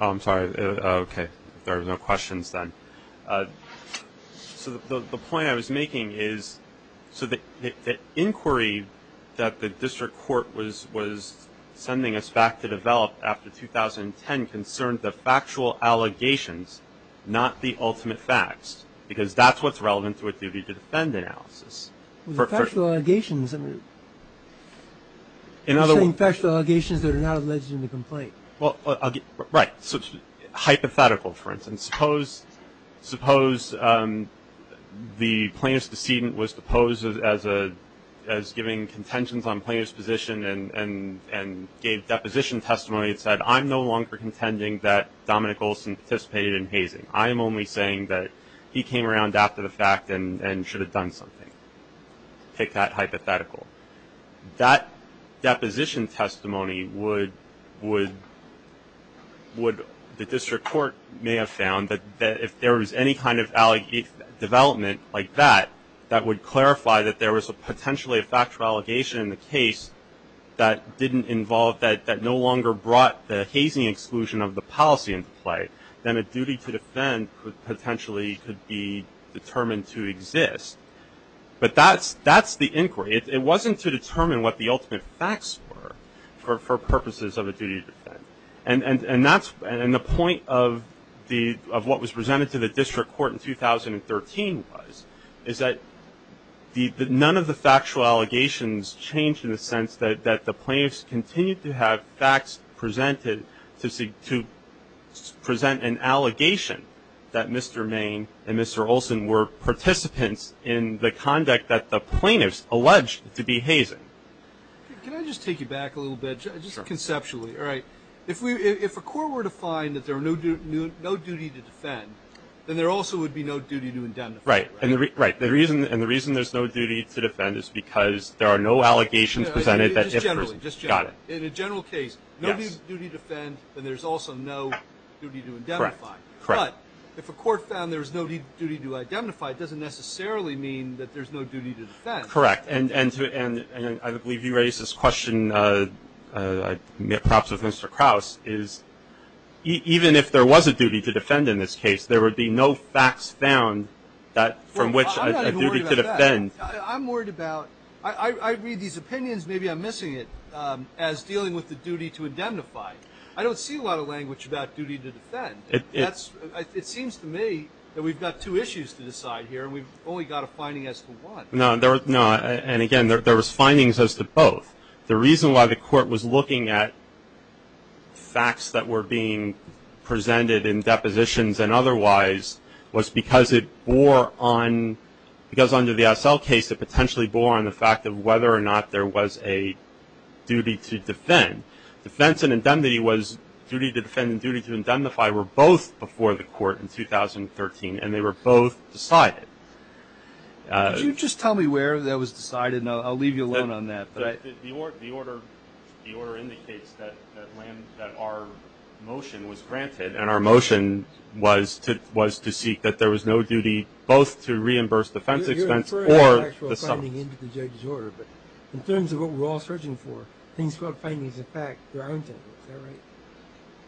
Oh, I'm sorry. Okay. If there are no questions, then. So the point I was making is, so the inquiry that the District Court was sending us back to develop after 2010 concerned the factual allegations, not the ultimate facts, because that's what's relevant to a duty-to-defend analysis. Well, the factual allegations, I mean, you're saying factual allegations that are not alleged in the complaint. Well, right. Hypothetical, for instance. Suppose the plaintiff's decedent was deposed as giving contentions on plaintiff's position and gave deposition testimony that said, I'm no longer contending that Dominic Olson participated in hazing. I am only saying that he came around after the fact and should have done something. Take that hypothetical. That deposition testimony would, the District Court may have found that if there was any kind of development like that, that would clarify that there was potentially a factual allegation in the case that didn't involve, that no longer brought the hazing exclusion of the policy into play, then a duty-to-defend potentially could be determined to exist. But that's the inquiry. It wasn't to determine what the ultimate facts were for purposes of a duty-to-defend. And that's, and the point of what was presented to the District Court in 2013 was, is that none of the factual allegations changed in the sense that the plaintiffs continued to have facts presented to present an allegation that Mr. Main and Mr. Olson were participants in the conduct that the plaintiffs alleged to be hazing. Can I just take you back a little bit, just conceptually? All right. If a court were to find that there were no duty to defend, then there also would be no duty to indemnify. Right. And the reason there's no duty to defend is because there are no allegations presented. Just generally. Got it. In a general case, no duty to defend, then there's also no duty to indemnify. Correct. But if a court found there was no duty to identify, it doesn't necessarily mean that there's no duty to defend. Correct. And I believe you raised this question, perhaps with Mr. Krause, even if there was a duty to defend in this case, there would be no facts found from which a duty to defend. I'm not even worried about that. I'm worried about, I read these opinions, maybe I'm missing it, as dealing with the duty to indemnify. I don't see a lot of language about duty to defend. It seems to me that we've got two issues to decide here, and we've only got a finding as to one. No, and again, there was findings as to both. The reason why the court was looking at facts that were being presented in depositions and otherwise was because it bore on, because under the SL case, it potentially bore on the fact of whether or not there was a duty to defend. Defense and indemnity was, duty to defend and duty to indemnify were both before the court in 2013, and they were both decided. Could you just tell me where that was decided? I'll leave you alone on that. The order indicates that our motion was granted, and our motion was to seek that there was no duty both to reimburse defense expense or the sum. You're inferring an actual finding into the judge's order, but in terms of what we're all searching for, things without findings of fact, there aren't any. Is that right?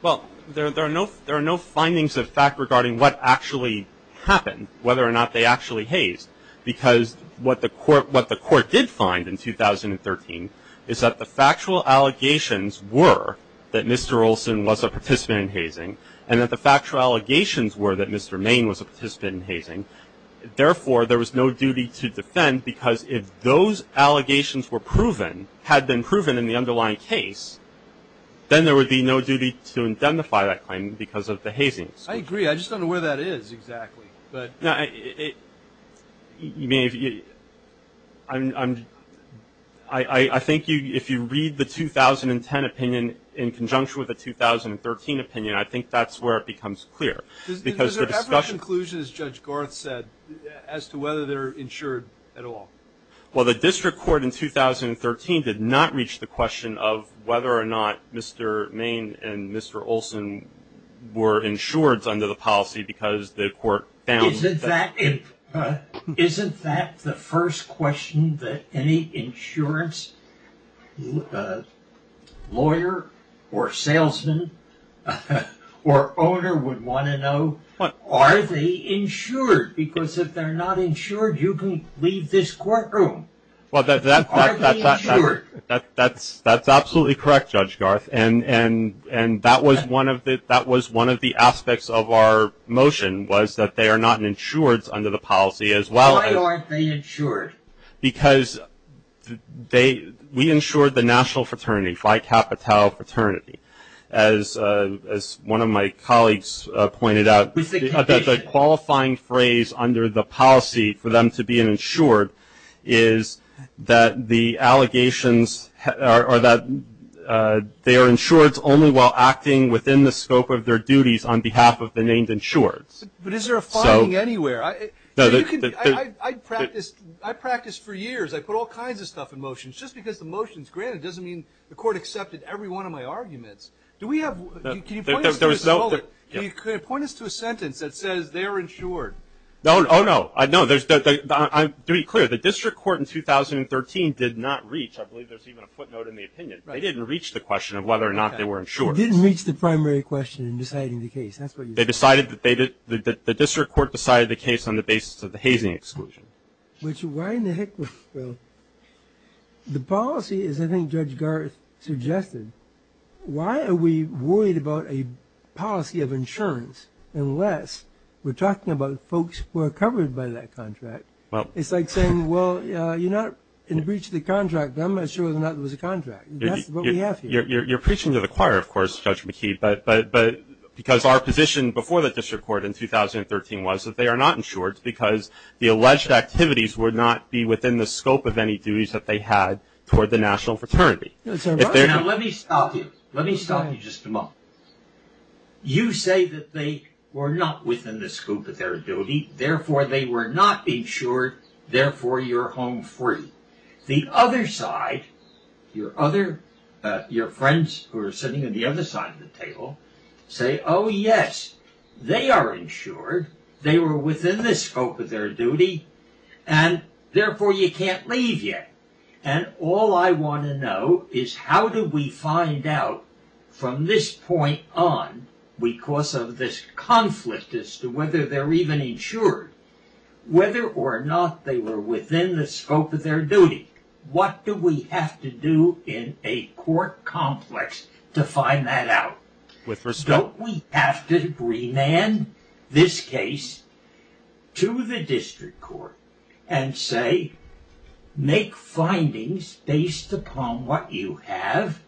Well, there are no findings of fact regarding what actually happened, whether or not they actually hazed, because what the court did find in 2013 is that the factual allegations were that Mr. Olson was a participant in hazing, and that the factual allegations were that Mr. Main was a participant in hazing. Therefore, there was no duty to defend, because if those allegations were proven, had been proven in the underlying case, then there would be no duty to indemnify that claim because of the hazing. I agree. I just don't know where that is exactly. I think if you read the 2010 opinion in conjunction with the 2013 opinion, I think that's where it becomes clear. Is there ever a conclusion, as Judge Garth said, as to whether they're insured at all? Well, the district court in 2013 did not reach the question of whether or not Mr. Main and Mr. Olson were insured under the policy because the court found that. Isn't that the first question that any insurance lawyer or salesman or owner would want to know? Are they insured? Because if they're not insured, you can leave this courtroom. Are they insured? That's absolutely correct, Judge Garth. And that was one of the aspects of our motion, was that they are not insured under the policy as well. Why aren't they insured? Because we insured the national fraternity, Phi Kappa Tau fraternity. As one of my colleagues pointed out, the qualifying phrase under the policy for them to be insured is that the allegations are that they are insured only while acting within the scope of their duties on behalf of the named insured. But is there a filing anywhere? I practiced for years. I put all kinds of stuff in motions. Just because the motion is granted doesn't mean the court accepted every one of my arguments. Can you point us to a sentence that says they're insured? Oh, no. To be clear, the district court in 2013 did not reach, I believe there's even a footnote in the opinion, they didn't reach the question of whether or not they were insured. They didn't reach the primary question in deciding the case. That's what you said. They decided that they did, the district court decided the case on the basis of the hazing exclusion. Which, why in the heck would, well, the policy is, I think Judge Garth suggested, why are we worried about a policy of insurance unless we're talking about folks who are covered by that contract? It's like saying, well, you're not in breach of the contract. I'm not sure whether or not there was a contract. That's what we have here. You're preaching to the choir, of course, Judge McKee, but because our position before the district court in 2013 was that they are not insured because the alleged activities would not be within the scope of any duties that they had toward the national fraternity. Let me stop you. Let me stop you just a moment. You say that they were not within the scope of their duty. Therefore, they were not insured. Therefore, you're home free. The other side, your friends who are sitting on the other side of the table, say, oh, yes, they are insured. They were within the scope of their duty. And, therefore, you can't leave yet. And all I want to know is how do we find out from this point on, because of this conflict as to whether they're even insured, whether or not they were within the scope of their duty. What do we have to do in a court complex to find that out? Don't we have to remand this case to the district court and say, make findings based upon what you have.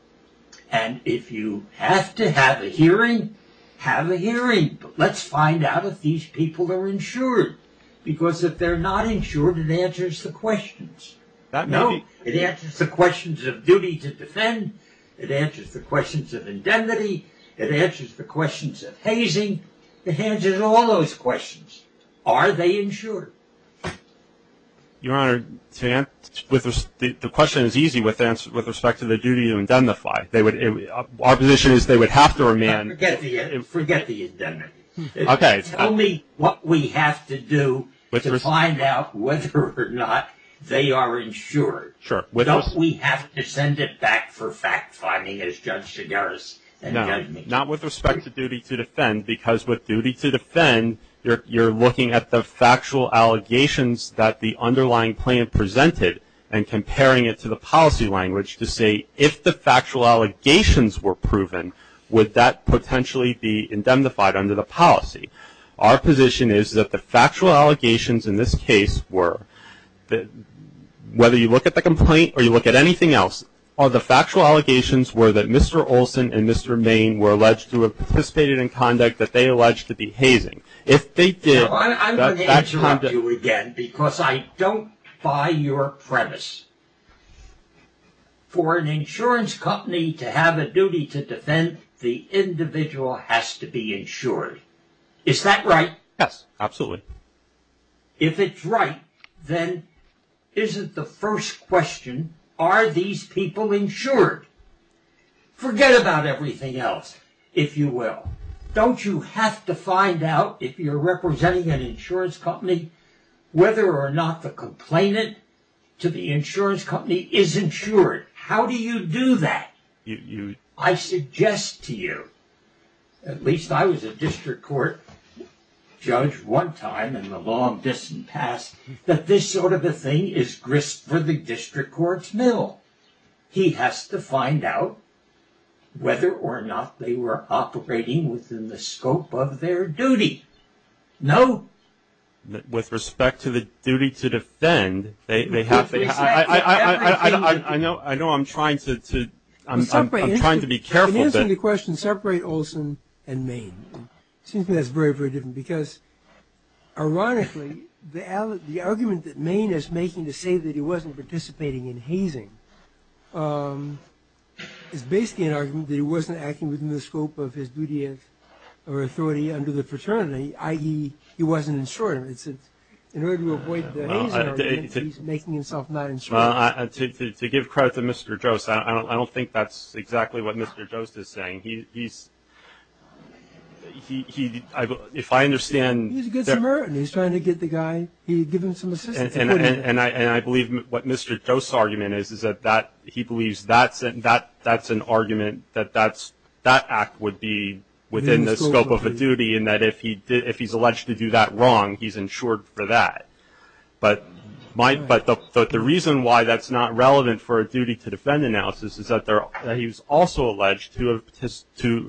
And if you have to have a hearing, have a hearing. Let's find out if these people are insured. Because if they're not insured, it answers the questions. It answers the questions of duty to defend. It answers the questions of indemnity. It answers the questions of hazing. It answers all those questions. Are they insured? Your Honor, the question is easy with respect to the duty to indemnify. Our position is they would have to remand. Forget the indemnity. Tell me what we have to do to find out whether or not they are insured. Sure. Don't we have to send it back for fact-finding as Judge Chigares and Judge Meek. No. Not with respect to duty to defend, because with duty to defend, you're looking at the factual allegations that the underlying plan presented and comparing it to the policy language to say, if the factual allegations were proven, would that potentially be indemnified under the policy? Our position is that the factual allegations in this case were, whether you look at the complaint or you look at anything else, are the factual allegations were that Mr. Olson and Mr. Main were alleged to have participated in conduct that they allege to be hazing. If they did, that's factual. I'm going to interrupt you again, because I don't buy your premise. For an insurance company to have a duty to defend, the individual has to be insured. Is that right? Yes, absolutely. If it's right, then isn't the first question, are these people insured? Forget about everything else, if you will. Don't you have to find out, if you're representing an insurance company, whether or not the complainant to the insurance company is insured? How do you do that? I suggest to you, at least I was a district court judge one time in the long distant past, that this sort of a thing is grist for the district court's mill. He has to find out whether or not they were operating within the scope of their duty. No? With respect to the duty to defend, they have to be. I know I'm trying to be careful. In answering the question, separate Olson and Maine. It seems to me that's very, very different, because ironically the argument that Maine is making to say that he wasn't participating in hazing is basically an argument that he wasn't acting within the scope of his duty or authority under the fraternity, i.e., he wasn't insured. In order to avoid the hazing argument, he's making himself not insured. To give credit to Mr. Jost, I don't think that's exactly what Mr. Jost is saying. He's, if I understand. He's a good Samaritan. He's trying to get the guy, give him some assistance. And I believe what Mr. Jost's argument is, is that he believes that's an argument that that act would be within the scope of a duty and that if he's alleged to do that wrong, he's insured for that. But the reason why that's not relevant for a duty to defend analysis is that he's also alleged to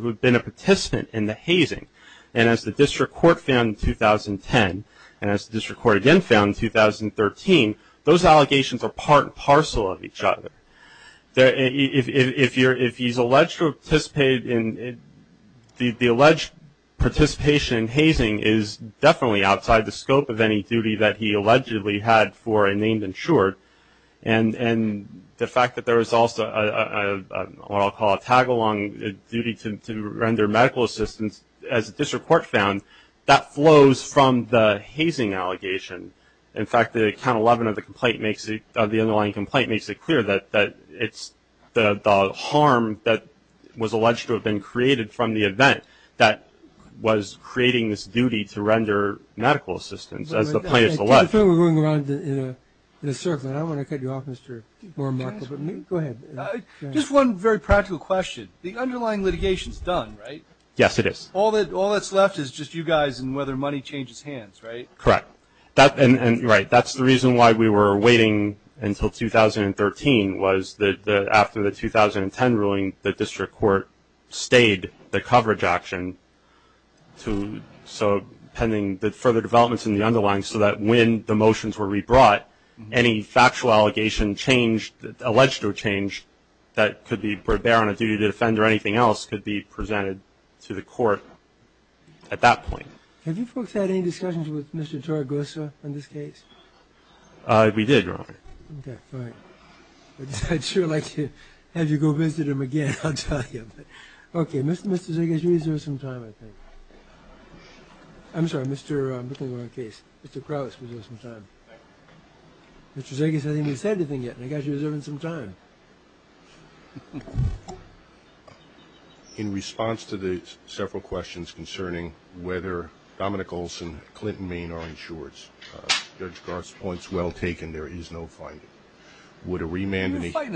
have been a participant in the hazing. And as the district court found in 2010, and as the district court again found in 2013, those allegations are part and parcel of each other. If he's alleged to have participated in, the alleged participation in hazing is definitely outside the scope of any duty that he allegedly had for a named insured. And the fact that there is also what I'll call a tag-along duty to render medical assistance, as the district court found, that flows from the hazing allegation. In fact, the count 11 of the complaint makes it, the underlying complaint makes it clear that it's the harm that was alleged to have been created from the event that was creating this duty to render medical assistance, as the plaintiff alleged. I feel we're going around in a circle, and I want to cut you off, Mr. Moore and Michael. Go ahead. Just one very practical question. The underlying litigation's done, right? Yes, it is. All that's left is just you guys and whether money changes hands, right? Correct. Right. That's the reason why we were waiting until 2013, was that after the 2010 ruling, the district court stayed the coverage action to, so pending the further developments in the underlying, so that when the motions were rebrought, any factual allegation changed, alleged to have changed, that could be, were there on a duty to defend or anything else, could be presented to the court at that point. Have you folks had any discussions with Mr. Taragosa on this case? We did, Your Honor. Okay, fine. I'd sure like to have you go visit him again, I'll tell you. Okay. Mr. Zegas, you deserve some time, I think. I'm sorry, I'm looking at the wrong case. Mr. Krauss deserves some time. Mr. Zegas hasn't even said anything yet, and I got you reserving some time. In response to the several questions concerning whether Dominic Olson, Clinton, Maine are insureds, Judge Garth's point's well taken, there is no finding. Would a remand in the hearing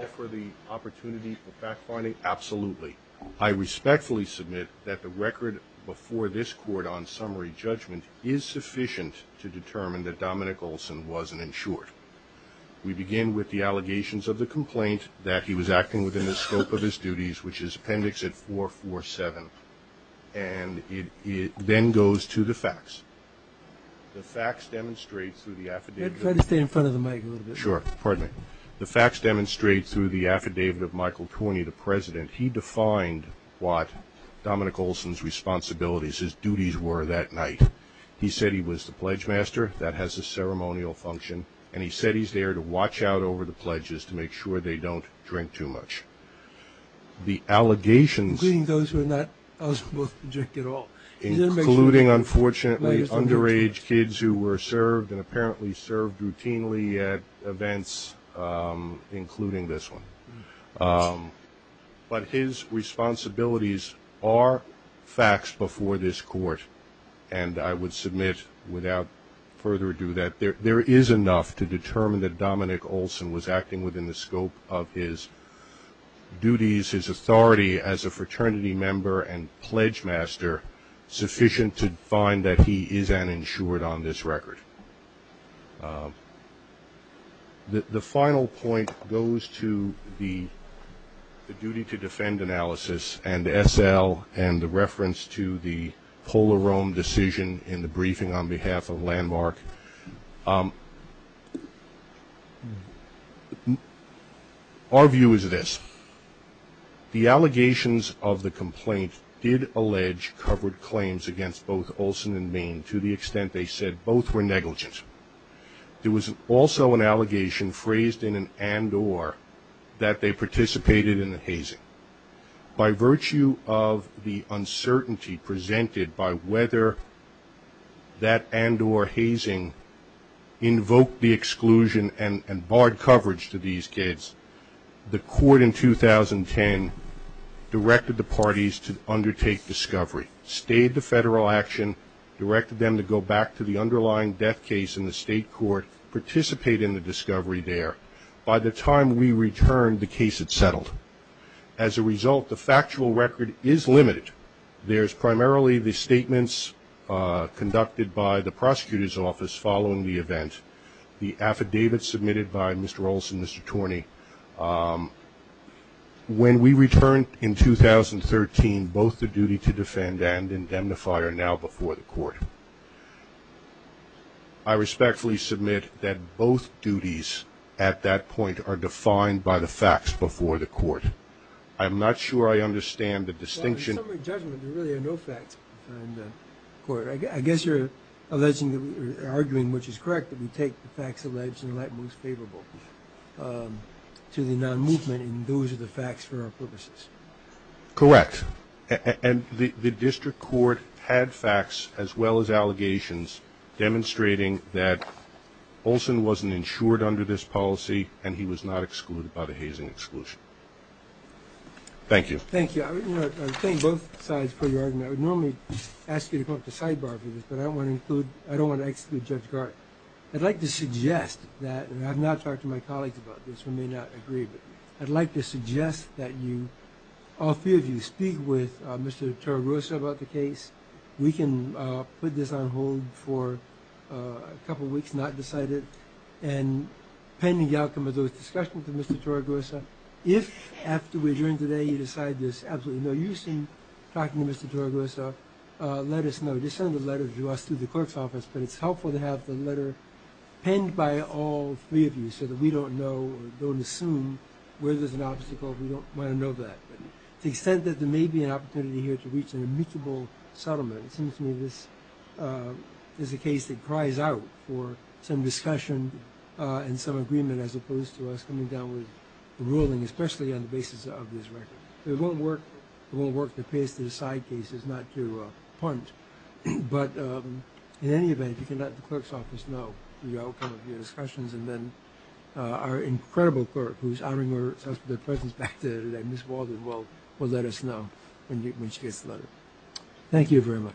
offer the opportunity for fact-finding? Absolutely. I respectfully submit that the record before this court on summary judgment is sufficient to determine that Dominic Olson wasn't insured. We begin with the allegations of the complaint, that he was acting within the scope of his duties, which is Appendix 447, and it then goes to the facts. The facts demonstrate through the affidavit. Try to stay in front of the mic a little bit. Sure, pardon me. The facts demonstrate through the affidavit of Michael Torney, the president, he defined what Dominic Olson's responsibilities, his duties were that night. He said he was the pledge master, that has a ceremonial function, and he said he's there to watch out over the pledges to make sure they don't drink too much. The allegations, including, unfortunately, underage kids who were served and apparently served routinely at events, including this one. But his responsibilities are facts before this court, and I would submit without further ado that there is enough to determine that Dominic Olson was acting within the scope of his duties, his authority as a fraternity member and pledge master sufficient to find that he is uninsured on this record. The final point goes to the duty to defend analysis and SL and the reference to the Polaroam decision in the briefing on behalf of Landmark. Our view is this. The allegations of the complaint did allege covered claims against both Olson and Main to the extent they said both were negligent. There was also an allegation phrased in an and-or that they participated in a hazing. By virtue of the uncertainty presented by whether that and-or hazing invoked the exclusion and barred coverage to these kids, the court in 2010 directed the parties to undertake discovery, stayed the federal action, directed them to go back to the underlying death case in the state court, participate in the discovery there. By the time we returned, the case had settled. As a result, the factual record is limited. There's primarily the statements conducted by the prosecutor's office following the event, the affidavit submitted by Mr. Olson and Mr. Torney. When we returned in 2013, both the duty to defend and indemnify are now before the court. I respectfully submit that both duties at that point are defined by the facts before the court. I'm not sure I understand the distinction. In summary judgment, there really are no facts before the court. I guess you're alleging or arguing, which is correct, that we take the facts alleged and let what's favorable to the non-movement, and those are the facts for our purposes. Correct. And the district court had facts as well as allegations demonstrating that Olson wasn't insured under this policy, and he was not excluded by the hazing exclusion. Thank you. Thank you. I would claim both sides for your argument. I would normally ask you to come up to the sidebar for this, but I don't want to exclude Judge Gart. I'd like to suggest that, and I've not talked to my colleagues about this. We may not agree, but I'd like to suggest that you, all three of you, speak with Mr. Torregosa about the case. We can put this on hold for a couple of weeks, not decide it, and pending the outcome of those discussions with Mr. Torregosa, if after we adjourn today you decide there's absolutely no use in talking to Mr. Torregosa, let us know. Just send a letter to us through the clerk's office, but it's helpful to have the letter penned by all three of you so that we don't know or don't assume where there's an obstacle if we don't want to know that. To the extent that there may be an opportunity here to reach an amicable settlement, it seems to me this is a case that cries out for some discussion and some agreement as opposed to us coming down with a ruling, especially on the basis of this record. It won't work to paste it as side cases, not to punt, but in any event, if you can let the clerk's office know the outcome of your discussions and then our incredible clerk, who's honoring herself with her presence back there today, Ms. Walden, will let us know when she gets the letter. Thank you very much.